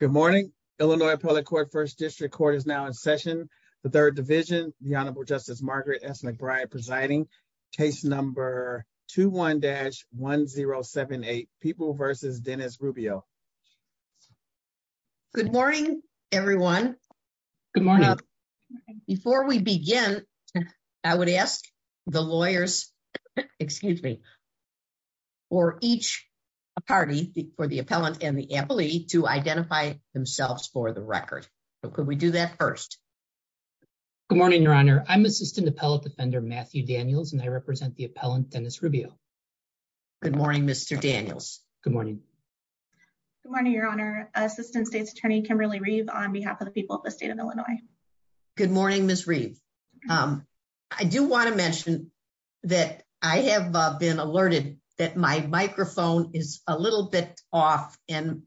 Good morning, Illinois public court first district court is now in session, the third division, the Honorable Justice Margaret s McBride presiding case number two one dash 1078 people versus Dennis Rubio. Good morning, everyone. Good morning. Before we begin, I would ask the lawyers. Excuse me. For each party for the appellant and the employee to identify themselves for the record. But could we do that first. Good morning, Your Honor, I'm assistant appellate defender Matthew Daniels and I represent the appellant Dennis Rubio. Good morning, Mr. Daniels. Good morning. Good morning, Your Honor, Assistant State's Attorney Kimberly Reeve on behalf of the people of the state of Illinois. Good morning, Miss Reed. I do want to mention that I have been alerted that my microphone is a little bit off. And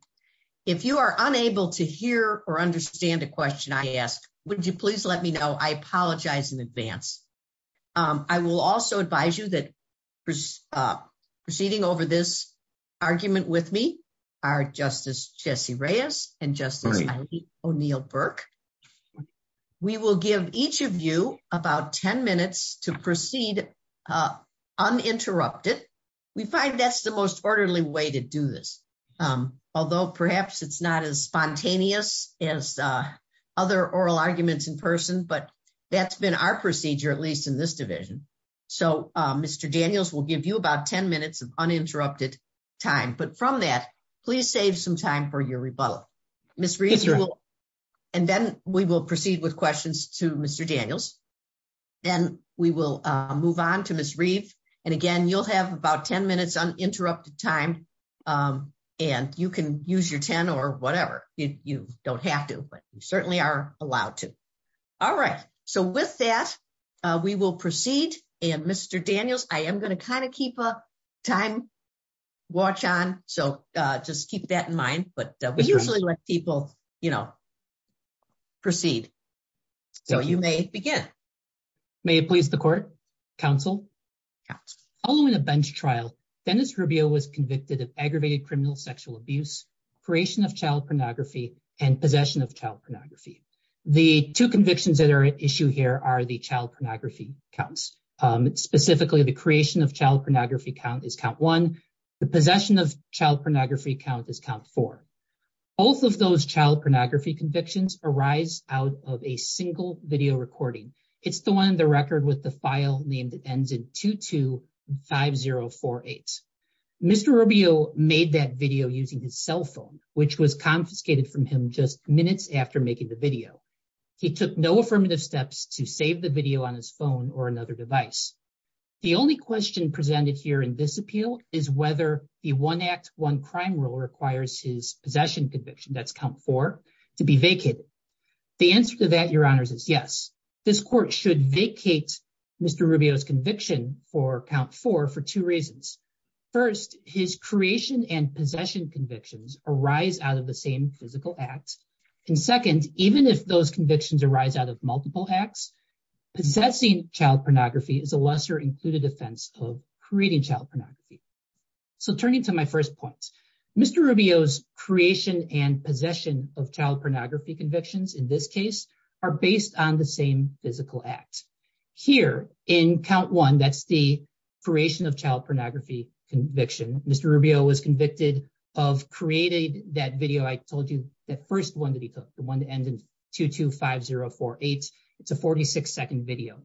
if you are unable to hear or understand the question I asked, would you please let me know I apologize in advance. I will also advise you that preceding over this argument with me are Justice Jesse Reyes and Justice O'Neill Burke. We will give each of you about 10 minutes to proceed uninterrupted. We find that's the most orderly way to do this. Although perhaps it's not as spontaneous as other oral arguments in person but that's been our procedure at least in this division. So, Mr. Daniels will give you about 10 minutes of uninterrupted time but from that, please save some time for your rebuttal. And then we will proceed with questions to Mr. Daniels. Then we will move on to Miss Reeve. And again, you'll have about 10 minutes uninterrupted time and you can use your 10 or whatever. You don't have to but you certainly are allowed to. All right. So with that, we will proceed. And Mr. Daniels, I am going to kind of keep a time watch on. So just keep that in mind. But we usually let people, you know, proceed. So you may begin. May it please the court. Counsel. Following a bench trial, Dennis Rubio was convicted of aggravated criminal sexual abuse, creation of child pornography, and possession of child pornography. The two convictions that are at issue here are the child pornography counts. Specifically the creation of child pornography count is count one. The possession of child pornography count is count four. Both of those child pornography convictions arise out of a single video recording. It's the one in the record with the file name that ends in 225048. Mr. Rubio made that video using his cell phone, which was confiscated from him just minutes after making the video. He took no affirmative steps to save the video on his phone or another device. The only question presented here in this appeal is whether the one act one crime rule requires his possession conviction. That's come for to be vacant. The answer to that, your honors is yes. This court should vacate Mr. Rubio's conviction for count four for two reasons. First, his creation and possession convictions arise out of the same physical acts. And second, even if those convictions arise out of multiple acts, possessing child pornography is a lesser included offense of creating child pornography. So turning to my first point, Mr. Rubio's creation and possession of child pornography convictions in this case are based on the same physical act. Here in count one, that's the creation of child pornography conviction. Mr. Rubio was convicted of creating that video. I told you the first one that he took, the one to end in 225048. It's a 46 second video.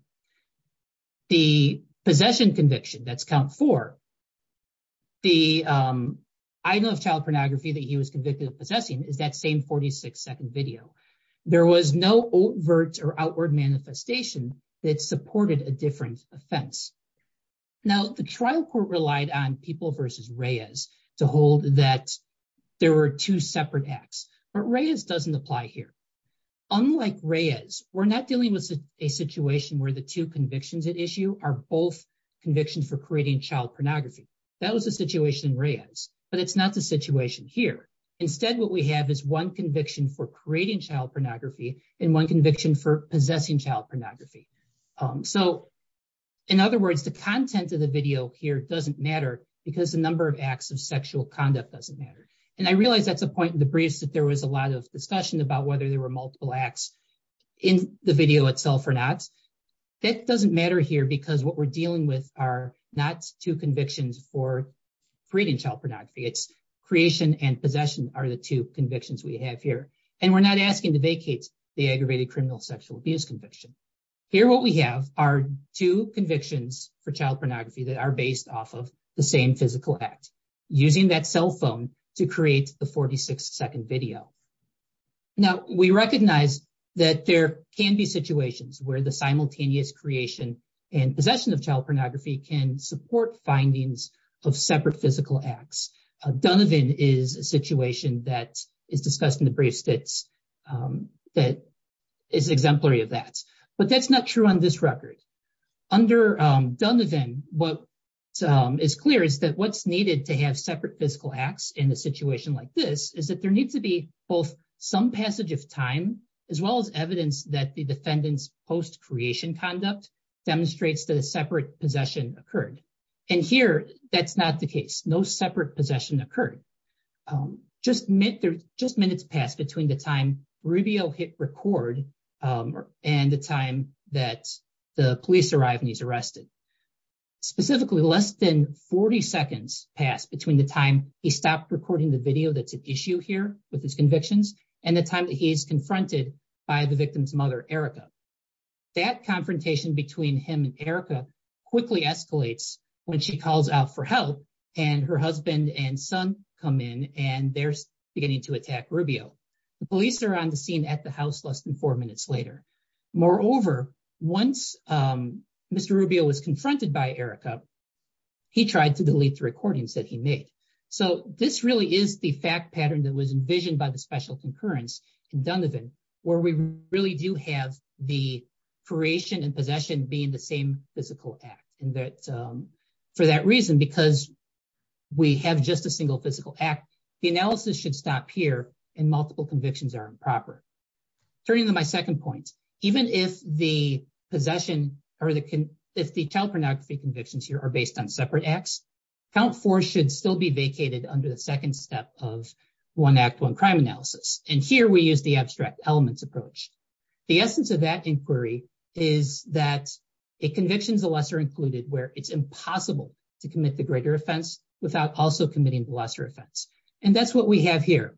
The possession conviction that's count for. The I know of child pornography that he was convicted of possessing is that same 46 second video. There was no overt or outward manifestation that supported a different offense. Now, the trial court relied on people versus Reyes to hold that there were two separate acts, but Reyes doesn't apply here. Unlike Reyes, we're not dealing with a situation where the two convictions at issue are both convictions for creating child pornography. That was a situation Reyes, but it's not the situation here. Instead, what we have is one conviction for creating child pornography and one conviction for possessing child pornography. So, in other words, the content of the video here doesn't matter because the number of acts of sexual conduct doesn't matter. And I realize that's a point in the briefs that there was a lot of discussion about whether there were multiple acts in the video itself or not. That doesn't matter here because what we're dealing with are not two convictions for creating child pornography. It's creation and possession are the two convictions we have here. And we're not asking to vacate the aggravated criminal sexual abuse conviction. Here, what we have are two convictions for child pornography that are based off of the same physical act, using that cell phone to create the 46 second video. Now, we recognize that there can be situations where the simultaneous creation and possession of child pornography can support findings of separate physical acts. Donovan is a situation that is discussed in the briefs that is exemplary of that. But that's not true on this record. Under Donovan, what is clear is that what's needed to have separate physical acts in a situation like this is that there needs to be both some passage of time, as well as evidence that the defendant's post-creation conduct demonstrates that a separate possession occurred. And here, that's not the case. No separate possession occurred. Just minutes passed between the time Rubio hit record and the time that the police arrived and he's arrested. Specifically, less than 40 seconds passed between the time he stopped recording the video that's at issue here with his convictions and the time that he's confronted by the victim's mother, Erica. That confrontation between him and Erica quickly escalates when she calls out for help and her husband and son come in and they're beginning to attack Rubio. The police are on the scene at the house less than four minutes later. Moreover, once Mr. Rubio was confronted by Erica, he tried to delete the recordings that he made. So this really is the fact pattern that was envisioned by the special concurrence in Donovan, where we really do have the creation and possession being the same physical act. And for that reason, because we have just a single physical act, the analysis should stop here and multiple convictions are improper. Turning to my second point, even if the possession or if the child pornography convictions here are based on separate acts, count four should still be vacated under the second step of one act, one crime analysis. And here we use the abstract elements approach. The essence of that inquiry is that a conviction is a lesser included where it's impossible to commit the greater offense without also committing the lesser offense. And that's what we have here.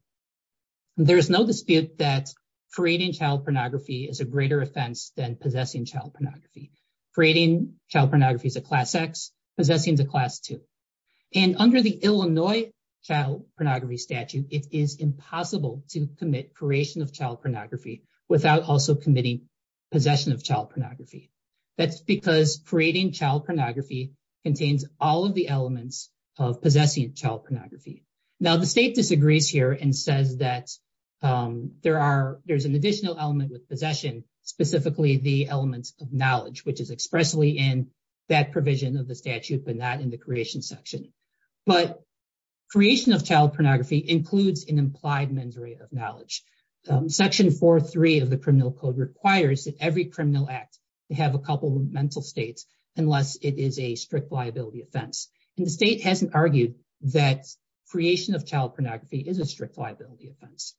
There is no dispute that creating child pornography is a greater offense than possessing child pornography. Creating child pornography is a class X, possessing is a class two. And under the Illinois child pornography statute, it is impossible to commit creation of child pornography without also committing possession of child pornography. That's because creating child pornography contains all of the elements of possessing child pornography. Now, the state disagrees here and says that there's an additional element with possession, specifically the elements of knowledge, which is expressly in that provision of the statute, but not in the creation section. But creation of child pornography includes an implied mens rea of knowledge. Section 4.3 of the Criminal Code requires that every criminal act have a couple of mental states unless it is a strict liability offense. And the state hasn't argued that creation of child pornography is a strict liability offense.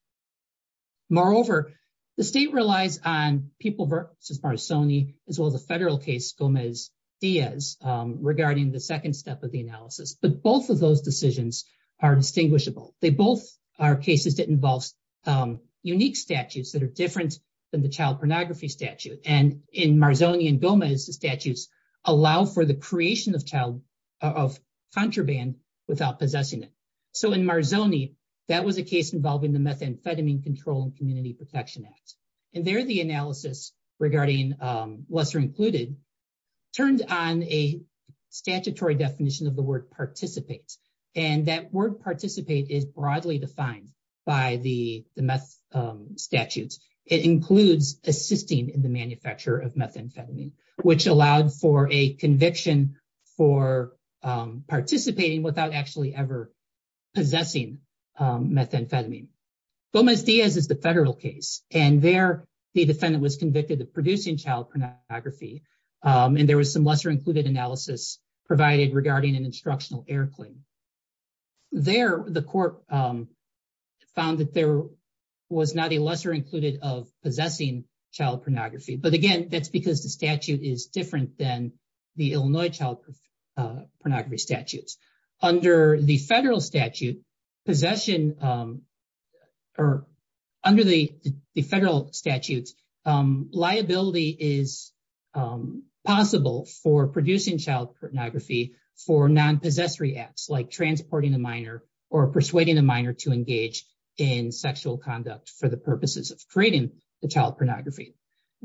Moreover, the state relies on People v. Marzoni as well as a federal case, Gomez-Diaz, regarding the second step of the analysis. But both of those decisions are distinguishable. They both are cases that involve unique statutes that are different than the child pornography statute. And in Marzoni and Gomez, the statutes allow for the creation of contraband without possessing it. So in Marzoni, that was a case involving the Methamphetamine Control and Community Protection Act. And there, the analysis regarding lesser included turned on a statutory definition of the word participate. And that word participate is broadly defined by the meth statutes. It includes assisting in the manufacture of methamphetamine, which allowed for a conviction for participating without actually ever possessing methamphetamine. Gomez-Diaz is the federal case. And there, the defendant was convicted of producing child pornography. And there was some lesser included analysis provided regarding an instructional air clean. There, the court found that there was not a lesser included of possessing child pornography. But again, that's because the statute is different than the Illinois child pornography statutes. Under the federal statute, liability is possible for producing child pornography for non-possessory acts like transporting a minor or persuading a minor to engage in sexual conduct for the purposes of creating the child pornography.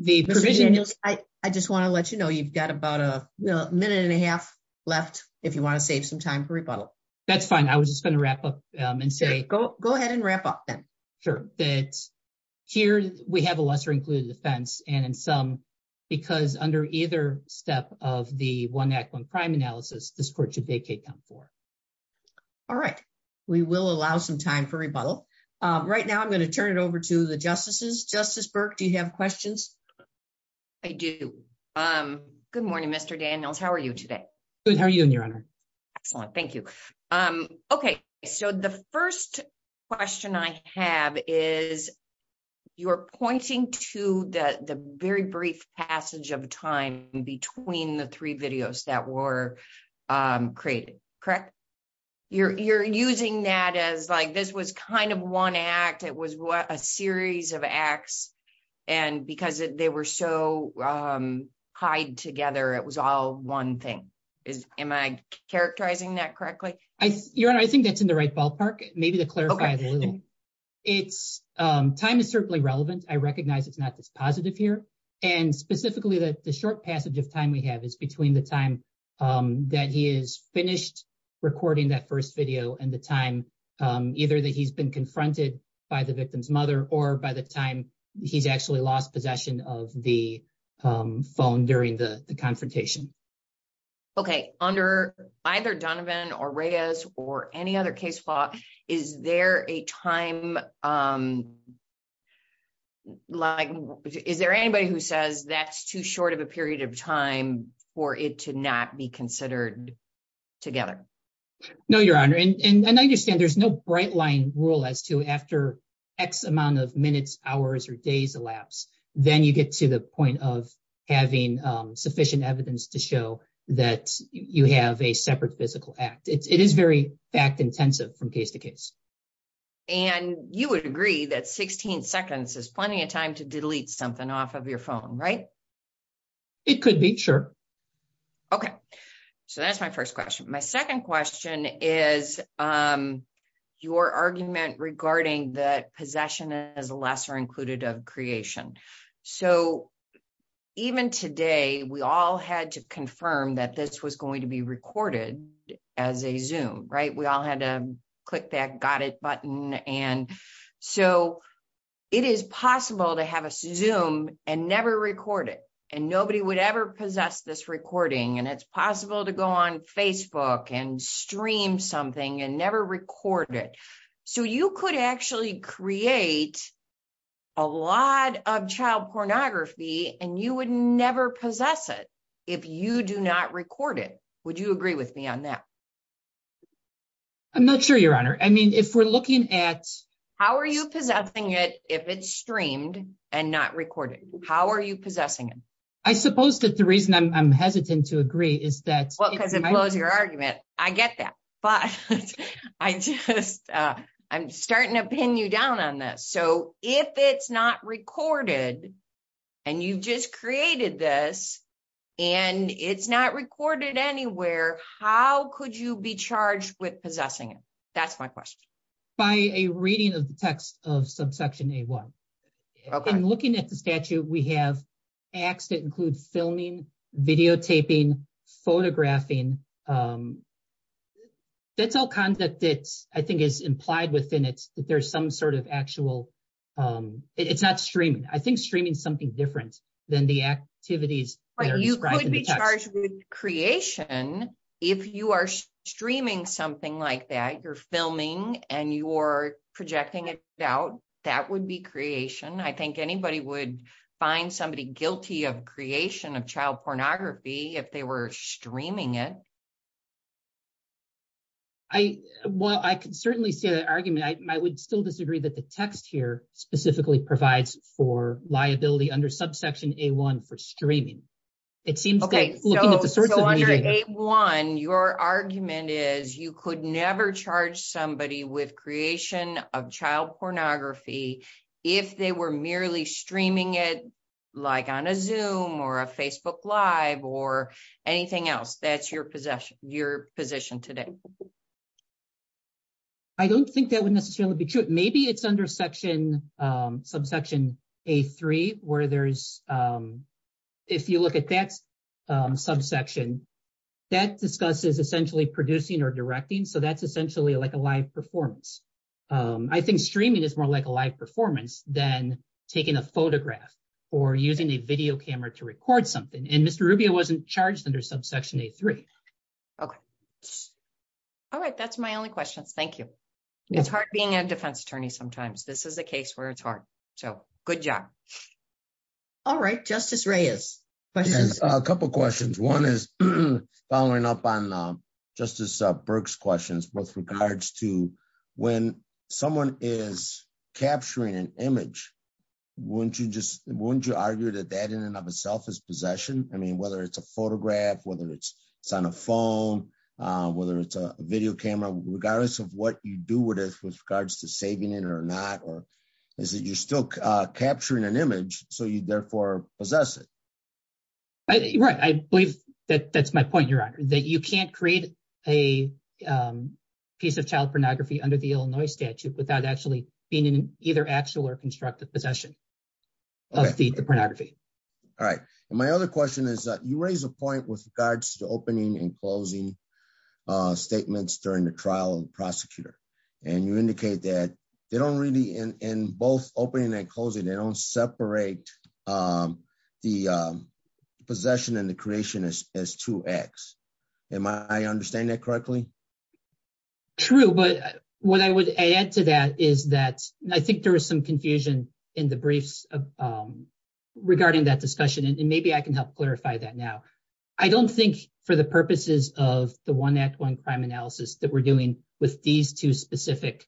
I just want to let you know, you've got about a minute and a half left, if you want to save some time for rebuttal. That's fine. I was just going to wrap up and say, go ahead and wrap up then. Sure. Here, we have a lesser included offense. And in some, because under either step of the one act, one crime analysis, this court should vacate count four. All right. We will allow some time for rebuttal. Right now, I'm going to turn it over to the justices. Justice Burke, do you have questions? I do. Good morning, Mr. Daniels. How are you today? Good. How are you doing, Your Honor? Excellent. Thank you. Okay, so the first question I have is, you're pointing to the very brief passage of time between the three videos that were created, correct? You're using that as like, this was kind of one act. It was a series of acts. And because they were so tied together, it was all one thing. Am I characterizing that correctly? Your Honor, I think that's in the right ballpark. Maybe to clarify a little. Time is certainly relevant. I recognize it's not this positive here. And specifically that the short passage of time we have is between the time that he is finished recording that first video and the time either that he's been confronted by the victim's mother or by the time he's actually lost possession of the phone during the confrontation. Okay, under either Donovan or Reyes or any other case law, is there a time, like, is there anybody who says that's too short of a period of time for it to not be considered together? No, Your Honor. And I understand there's no bright line rule as to after X amount of minutes, hours, or days elapse, then you get to the point of having sufficient evidence to show that you have a separate physical act. It is very fact intensive from case to case. And you would agree that 16 seconds is plenty of time to delete something off of your phone, right? It could be, sure. Okay, so that's my first question. My second question is your argument regarding that possession is lesser included of creation. So, even today, we all had to confirm that this was going to be recorded as a Zoom, right? We all had to click that got it button. And so, it is possible to have a Zoom and never record it and nobody would ever possess this recording. And it's possible to go on Facebook and stream something and never record it. So, you could actually create a lot of child pornography and you would never possess it if you do not record it. Would you agree with me on that? I'm not sure, Your Honor. I mean, if we're looking at... How are you possessing it if it's streamed and not recorded? How are you possessing it? I suppose that the reason I'm hesitant to agree is that... I'm starting to pin you down on this. So, if it's not recorded, and you just created this, and it's not recorded anywhere, how could you be charged with possessing it? That's my question. By a reading of the text of subsection A-1. Okay. I'm looking at the statute, we have acts that include filming, videotaping, photographing. That's all content that I think is implied within it, that there's some sort of actual... I think streaming is something different than the activities that are described in the text. But you could be charged with creation if you are streaming something like that, you're filming, and you're projecting it out. That would be creation. I think anybody would find somebody guilty of creation of child pornography if they were streaming it. Well, I can certainly see that argument. I would still disagree that the text here specifically provides for liability under subsection A-1 for streaming. Okay, so under A-1, your argument is you could never charge somebody with creation of child pornography if they were merely streaming it, like on a Zoom or a Facebook Live or anything else. That's your position today. I don't think that would necessarily be true. Maybe it's under subsection A-3 where there's... If you look at that subsection, that discusses essentially producing or directing, so that's essentially like a live performance. I think streaming is more like a live performance than taking a photograph or using a video camera to record something. And Mr. Rubio wasn't charged under subsection A-3. Okay. All right, that's my only questions. Thank you. It's hard being a defense attorney sometimes. This is a case where it's hard. So, good job. All right, Justice Reyes. A couple of questions. One is following up on Justice Burke's questions with regards to when someone is capturing an image, wouldn't you argue that that in and of itself is possession? I mean, whether it's a photograph, whether it's on a phone, whether it's a video camera, regardless of what you do with it with regards to saving it or not, or is it you're still capturing an image, so you therefore possess it? Right. I believe that that's my point, Your Honor, that you can't create a piece of child pornography under the Illinois statute without actually being in either actual or constructive possession of the pornography. All right. And my other question is that you raise a point with regards to opening and closing statements during the trial of the prosecutor. And you indicate that they don't really, in both opening and closing, they don't separate the possession and the creation as two acts. Am I understanding that correctly? True, but what I would add to that is that I think there was some confusion in the briefs regarding that discussion, and maybe I can help clarify that now. I don't think, for the purposes of the one act, one crime analysis that we're doing with these two specific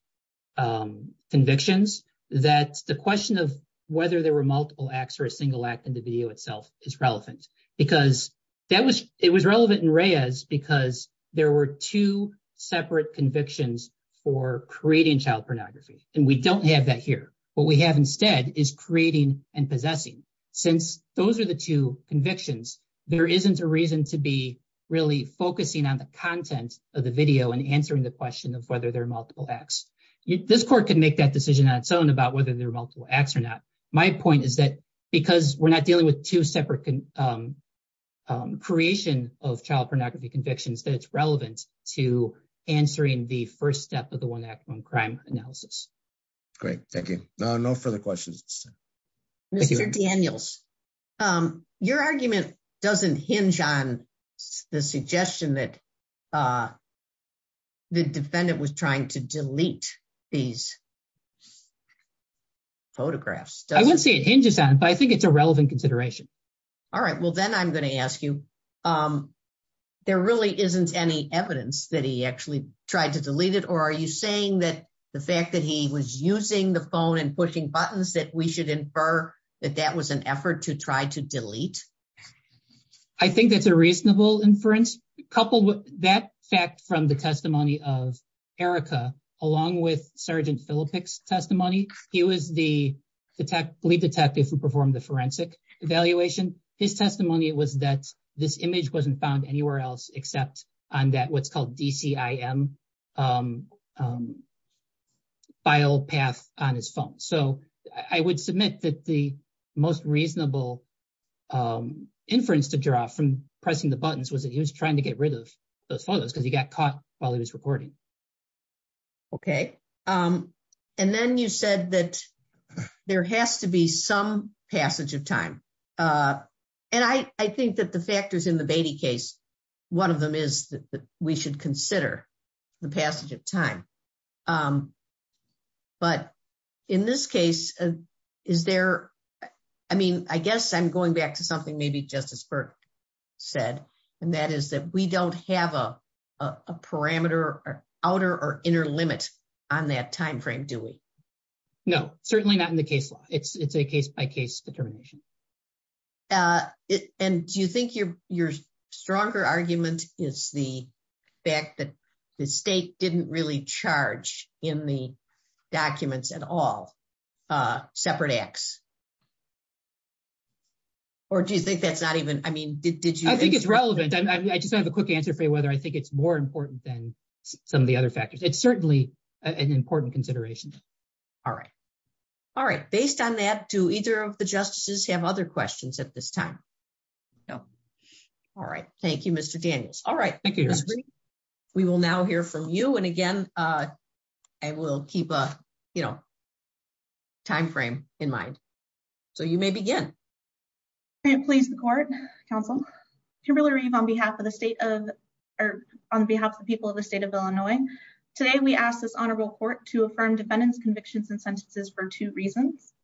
convictions, that the question of whether there were multiple acts or a single act in the video itself is relevant. It was relevant in Reyes because there were two separate convictions for creating child pornography, and we don't have that here. What we have instead is creating and possessing. Since those are the two convictions, there isn't a reason to be really focusing on the content of the video and answering the question of whether there are multiple acts. This court can make that decision on its own about whether there are multiple acts or not. My point is that because we're not dealing with two separate creation of child pornography convictions, that it's relevant to answering the first step of the one act, one crime analysis. Great. Thank you. No further questions. Mr. Daniels, your argument doesn't hinge on the suggestion that the defendant was trying to delete these photographs. I wouldn't say it hinges on it, but I think it's a relevant consideration. All right. Well, then I'm going to ask you, there really isn't any evidence that he actually tried to delete it, or are you saying that the fact that he was using the phone and pushing buttons that we should infer that that was an effort to try to delete? I think that's a reasonable inference. Coupled with that fact from the testimony of Erica, along with Sergeant Filipic's testimony, he was the lead detective who performed the forensic evaluation. His testimony was that this image wasn't found anywhere else except on that what's called DCIM file path on his phone. So I would submit that the most reasonable inference to draw from pressing the buttons was that he was trying to get rid of those photos because he got caught while he was recording. Okay. And then you said that there has to be some passage of time. And I think that the factors in the Beatty case, one of them is that we should consider the passage of time. But in this case, is there, I mean, I guess I'm going back to something maybe Justice Burke said, and that is that we don't have a parameter, outer or inner limit on that timeframe, do we? No, certainly not in the case law. It's a case by case determination. And do you think your stronger argument is the fact that the state didn't really charge in the documents at all separate acts? Or do you think that's not even, I mean, did you think it's relevant? I think it's relevant. I just have a quick answer for you whether I think it's more important than some of the other factors. It's certainly an important consideration. All right. All right. Based on that, do either of the justices have other questions at this time? No. All right. Thank you, Mr. Daniels. All right. We will now hear from you. And again, I will keep a, you know, timeframe in mind. So you may begin. May it please the court, counsel. Kimberly Reeve on behalf of the state of, or on behalf of the people of the state of Illinois. Today we ask this honorable court to affirm defendants convictions and sentences for two reasons.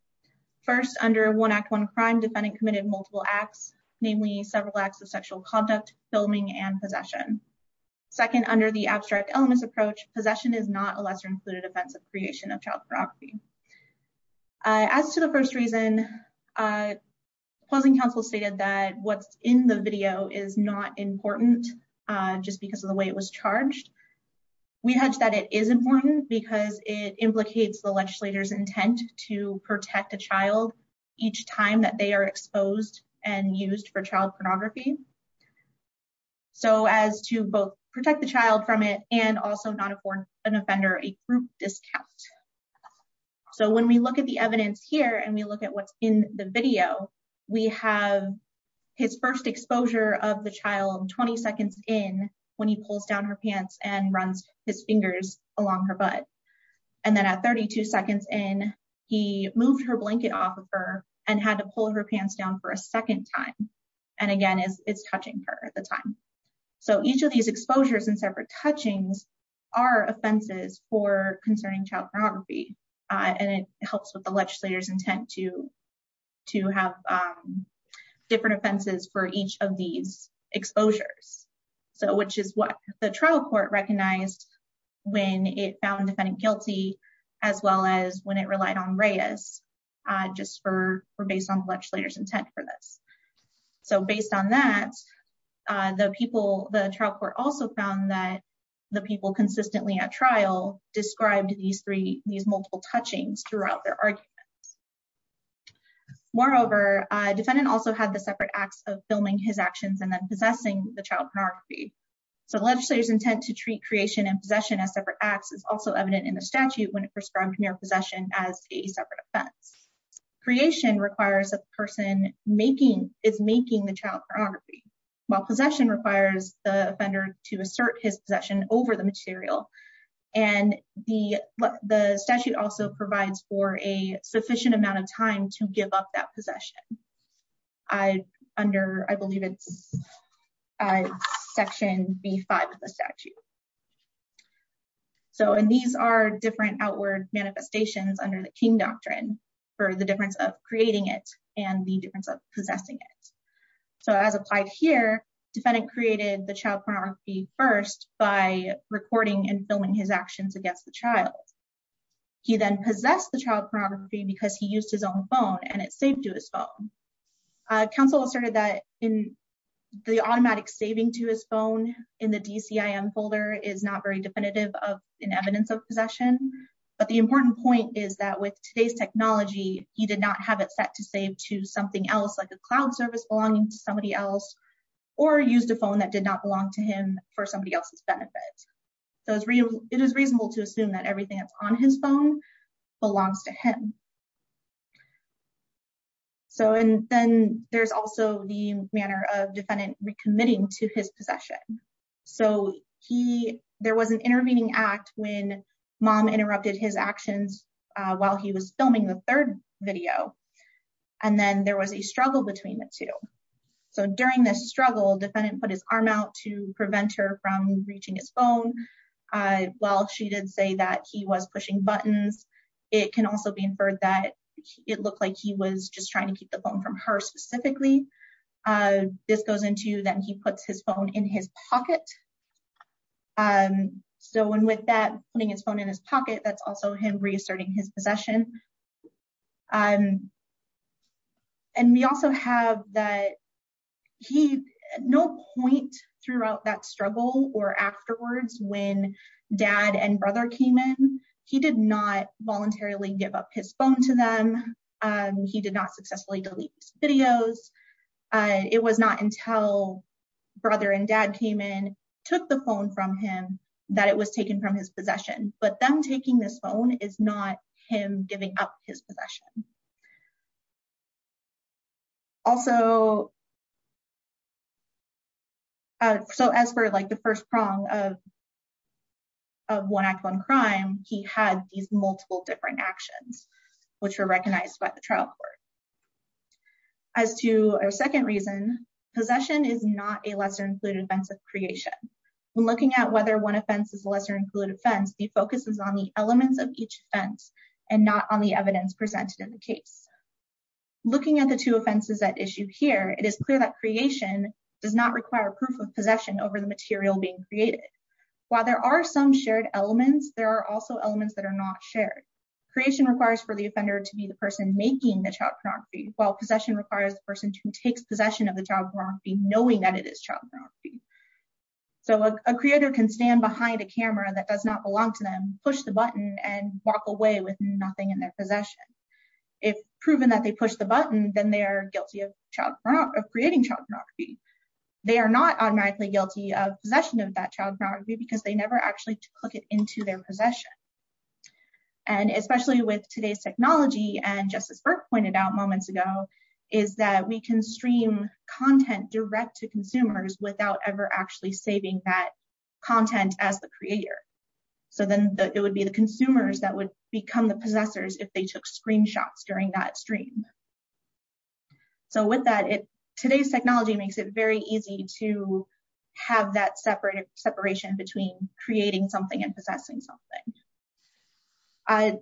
First, under one act, one crime defendant committed multiple acts, namely several acts of sexual conduct, filming and possession. Second, under the abstract illness approach, possession is not a lesser included offense of creation of child pornography. As to the first reason, pausing counsel stated that what's in the video is not important just because of the way it was charged. We had said it is important because it implicates the legislator's intent to protect a child each time that they are exposed and used for child pornography. So as to both protect the child from it and also not afford an offender a group discount. So when we look at the evidence here and we look at what's in the video, we have his first exposure of the child 20 seconds in when he pulls down her pants and runs his fingers along her butt. And then at 32 seconds in, he moved her blanket off of her and had to pull her pants down for a second time. And again, it's touching her at the time. So each of these exposures and separate touchings are offenses for concerning child pornography. And it helps with the legislator's intent to to have different offenses for each of these exposures. So which is what the trial court recognized when it found defendant guilty, as well as when it relied on Reyes, just for based on the legislator's intent for this. So based on that, the trial court also found that the people consistently at trial described these three, these multiple touchings throughout their arguments. Moreover, defendant also had the separate acts of filming his actions and then possessing the child pornography. So the legislator's intent to treat creation and possession as separate acts is also evident in the statute when it prescribed mere possession as a separate offense. Creation requires a person making, is making the child pornography, while possession requires the offender to assert his possession over the material. And the statute also provides for a sufficient amount of time to give up that possession. I, under, I believe it's section B5 of the statute. So and these are different outward manifestations under the King Doctrine for the difference of creating it and the difference of possessing it. So as applied here, defendant created the child pornography first by recording and filming his actions against the child. He then possessed the child pornography because he used his own phone and it saved to his phone. Counsel asserted that in the automatic saving to his phone in the DCIM folder is not very definitive of an evidence of possession. But the important point is that with today's technology, he did not have it set to save to something else like a cloud service belonging to somebody else or used a phone that did not belong to him for somebody else's benefit. So it is reasonable to assume that everything that's on his phone belongs to him. So and then there's also the manner of defendant recommitting to his possession. So he there was an intervening act when mom interrupted his actions while he was filming the third video. And then there was a struggle between the two. So during this struggle, defendant put his arm out to prevent her from reaching his phone. While she did say that he was pushing buttons, it can also be inferred that it looked like he was just trying to keep the phone from her specifically. This goes into that he puts his phone in his pocket. So and with that, putting his phone in his pocket, that's also him reasserting his possession. And we also have that he no point throughout that struggle or afterwards when dad and brother came in, he did not voluntarily give up his phone to them. He did not successfully delete videos. It was not until brother and dad came in, took the phone from him, that it was taken from his possession. But them taking this phone is not him giving up his possession. Also. So as for like the first prong of. Of one act one crime, he had these multiple different actions which were recognized by the trial court. As to our second reason, possession is not a lesser included offensive creation. When looking at whether one offense is a lesser included offense, the focus is on the elements of each fence and not on the evidence presented in the case. Looking at the two offenses that issue here, it is clear that creation does not require proof of possession over the material being created. While there are some shared elements, there are also elements that are not shared. Creation requires for the offender to be the person making the child pornography, while possession requires the person who takes possession of the child pornography knowing that it is child pornography. So a creator can stand behind a camera that does not belong to them, push the button and walk away with nothing in their possession. If proven that they push the button, then they are guilty of creating child pornography. They are not automatically guilty of possession of that child pornography because they never actually took it into their possession. And especially with today's technology and just as Burke pointed out moments ago, is that we can stream content direct to consumers without ever actually saving that content as the creator. So then it would be the consumers that would become the possessors if they took screenshots during that stream. So with that, today's technology makes it very easy to have that separation between creating something and possessing something. A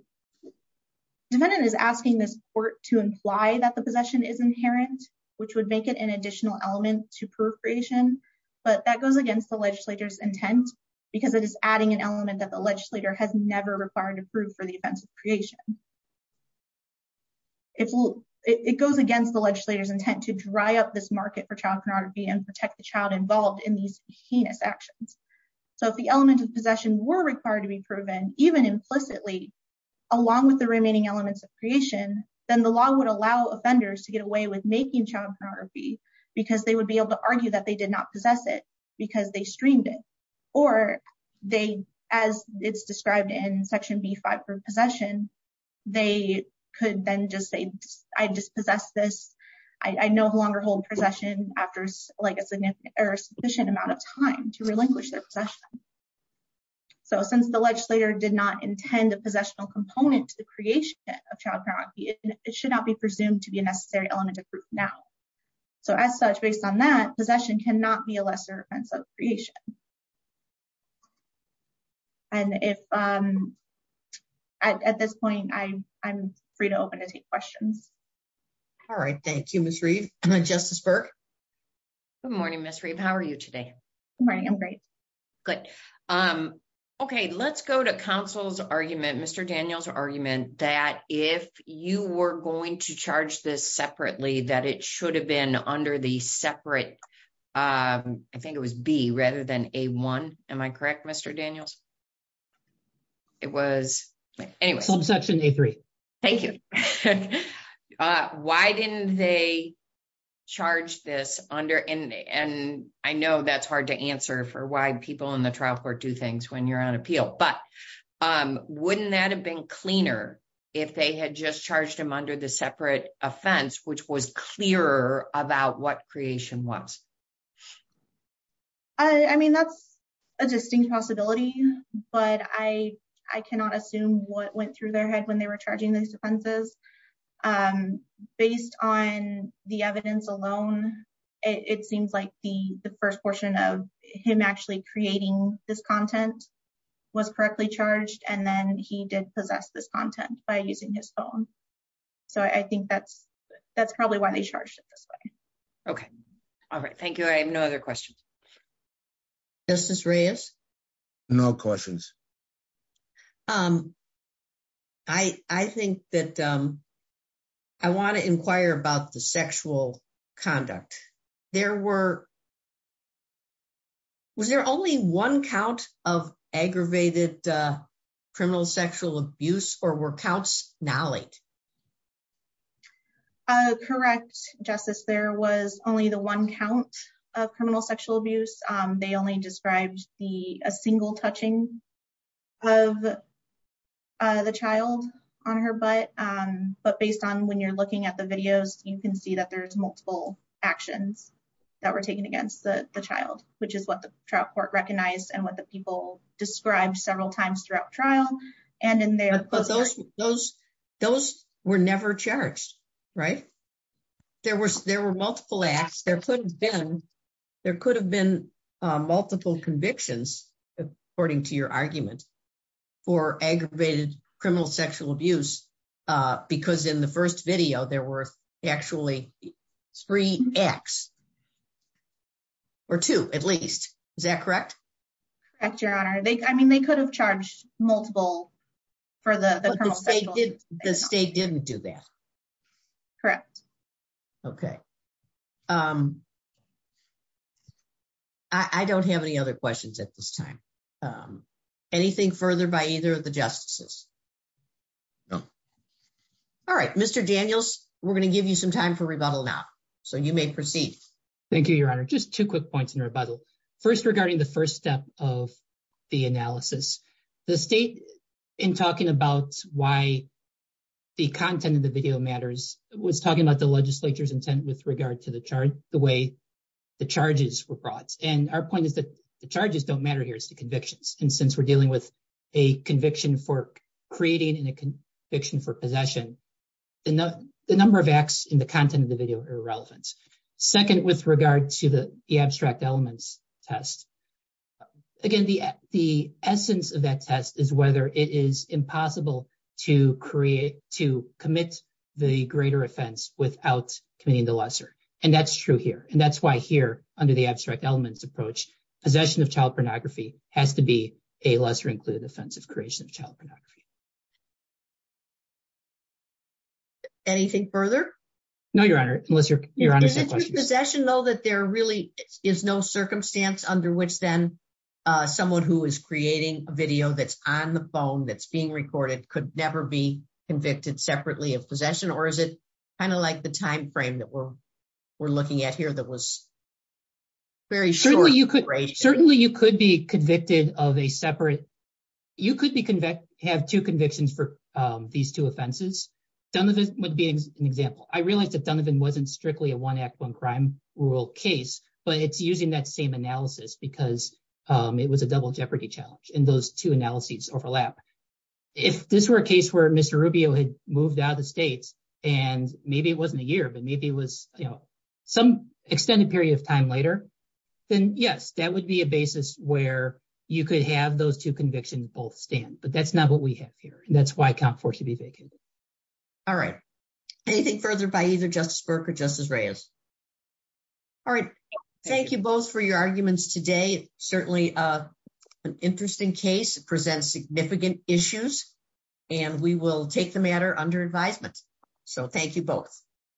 defendant is asking this court to imply that the possession is inherent, which would make it an additional element to prove creation. But that goes against the legislator's intent because it is adding an element that the legislator has never required to prove for the offense of creation. It goes against the legislator's intent to dry up this market for child pornography and protect the child involved in these heinous actions. So if the element of possession were required to be proven, even implicitly, along with the remaining elements of creation, then the law would allow offenders to get away with making child pornography because they would be able to argue that they did not possess it because they streamed it. Or they, as it's described in Section B-5 for possession, they could then just say, I just possess this. I no longer hold possession after a sufficient amount of time to relinquish their possession. So since the legislator did not intend a possessional component to the creation of child pornography, it should not be presumed to be a necessary element of proof now. So as such, based on that, possession cannot be a lesser offense of creation. And at this point, I'm free to open to take questions. All right. Thank you, Ms. Reeve. Justice Burke? Good morning, Ms. Reeve. How are you today? Good morning. I'm great. Good. Okay, let's go to counsel's argument, Mr. Daniels' argument, that if you were going to charge this separately, that it should have been under the separate, I think it was B, rather than A-1. Am I correct, Mr. Daniels? It was... Subsection A-3. Thank you. Why didn't they charge this under, and I know that's hard to answer for why people in the trial court do things when you're on appeal, but wouldn't that have been cleaner if they had just charged him under the separate offense, which was clearer about what creation was? I mean, that's a distinct possibility, but I cannot assume what went through their head when they were charging these offenses. Based on the evidence alone, it seems like the first portion of him actually creating this content was correctly charged, and then he did possess this content by using his phone. So I think that's probably why they charged it this way. Okay. All right. Thank you. I have no other questions. Justice Reyes? No questions. I think that I want to inquire about the sexual conduct. There were... Was there only one count of aggravated criminal sexual abuse, or were counts knowledge? Correct, Justice. There was only the one count of criminal sexual abuse. They only described a single touching of the child on her butt, but based on when you're looking at the videos, you can see that there's multiple actions that were taken against the child, which is what the trial court recognized and what the people described several times throughout trial. But those were never charged, right? There were multiple acts. There could have been multiple convictions, according to your argument, for aggravated criminal sexual abuse, because in the first video, there were actually three acts, or two at least. Is that correct? Correct, Your Honor. I mean, they could have charged multiple for the criminal sexual... But the state didn't do that. Correct. Okay. I don't have any other questions at this time. Anything further by either of the justices? No. All right. Mr. Daniels, we're going to give you some time for rebuttal now, so you may proceed. Thank you, Your Honor. Just two quick points in rebuttal. First, regarding the first step of the analysis, the state, in talking about why the content of the video matters, was talking about the legislature's intent with regard to the way the charges were brought. And our point is that the charges don't matter here. It's the convictions. And since we're dealing with a conviction for creating and a conviction for possession, the number of acts in the content of the video are irrelevant. And with regard to the abstract elements test, again, the essence of that test is whether it is impossible to commit the greater offense without committing the lesser. And that's true here. And that's why here, under the abstract elements approach, possession of child pornography has to be a lesser included offense of creation of child pornography. Anything further? No, Your Honor, unless Your Honor has any questions. Is it true with possession, though, that there really is no circumstance under which then someone who is creating a video that's on the phone that's being recorded could never be convicted separately of possession? Or is it kind of like the timeframe that we're looking at here that was very short? Certainly, you could be convicted of a separate. You could have two convictions for these two offenses. Donovan would be an example. I realized that Donovan wasn't strictly a one act, one crime rule case, but it's using that same analysis because it was a double jeopardy challenge. And those two analyses overlap. If this were a case where Mr. Rubio had moved out of the States and maybe it wasn't a year, but maybe it was some extended period of time later, then, yes, that would be a basis where you could have those two convictions both stand. But that's not what we have here. And that's why I can't force you to be vacated. All right. Anything further by either Justice Burke or Justice Reyes? All right. Thank you both for your arguments today. Certainly an interesting case presents significant issues, and we will take the matter under advisement. So, thank you both.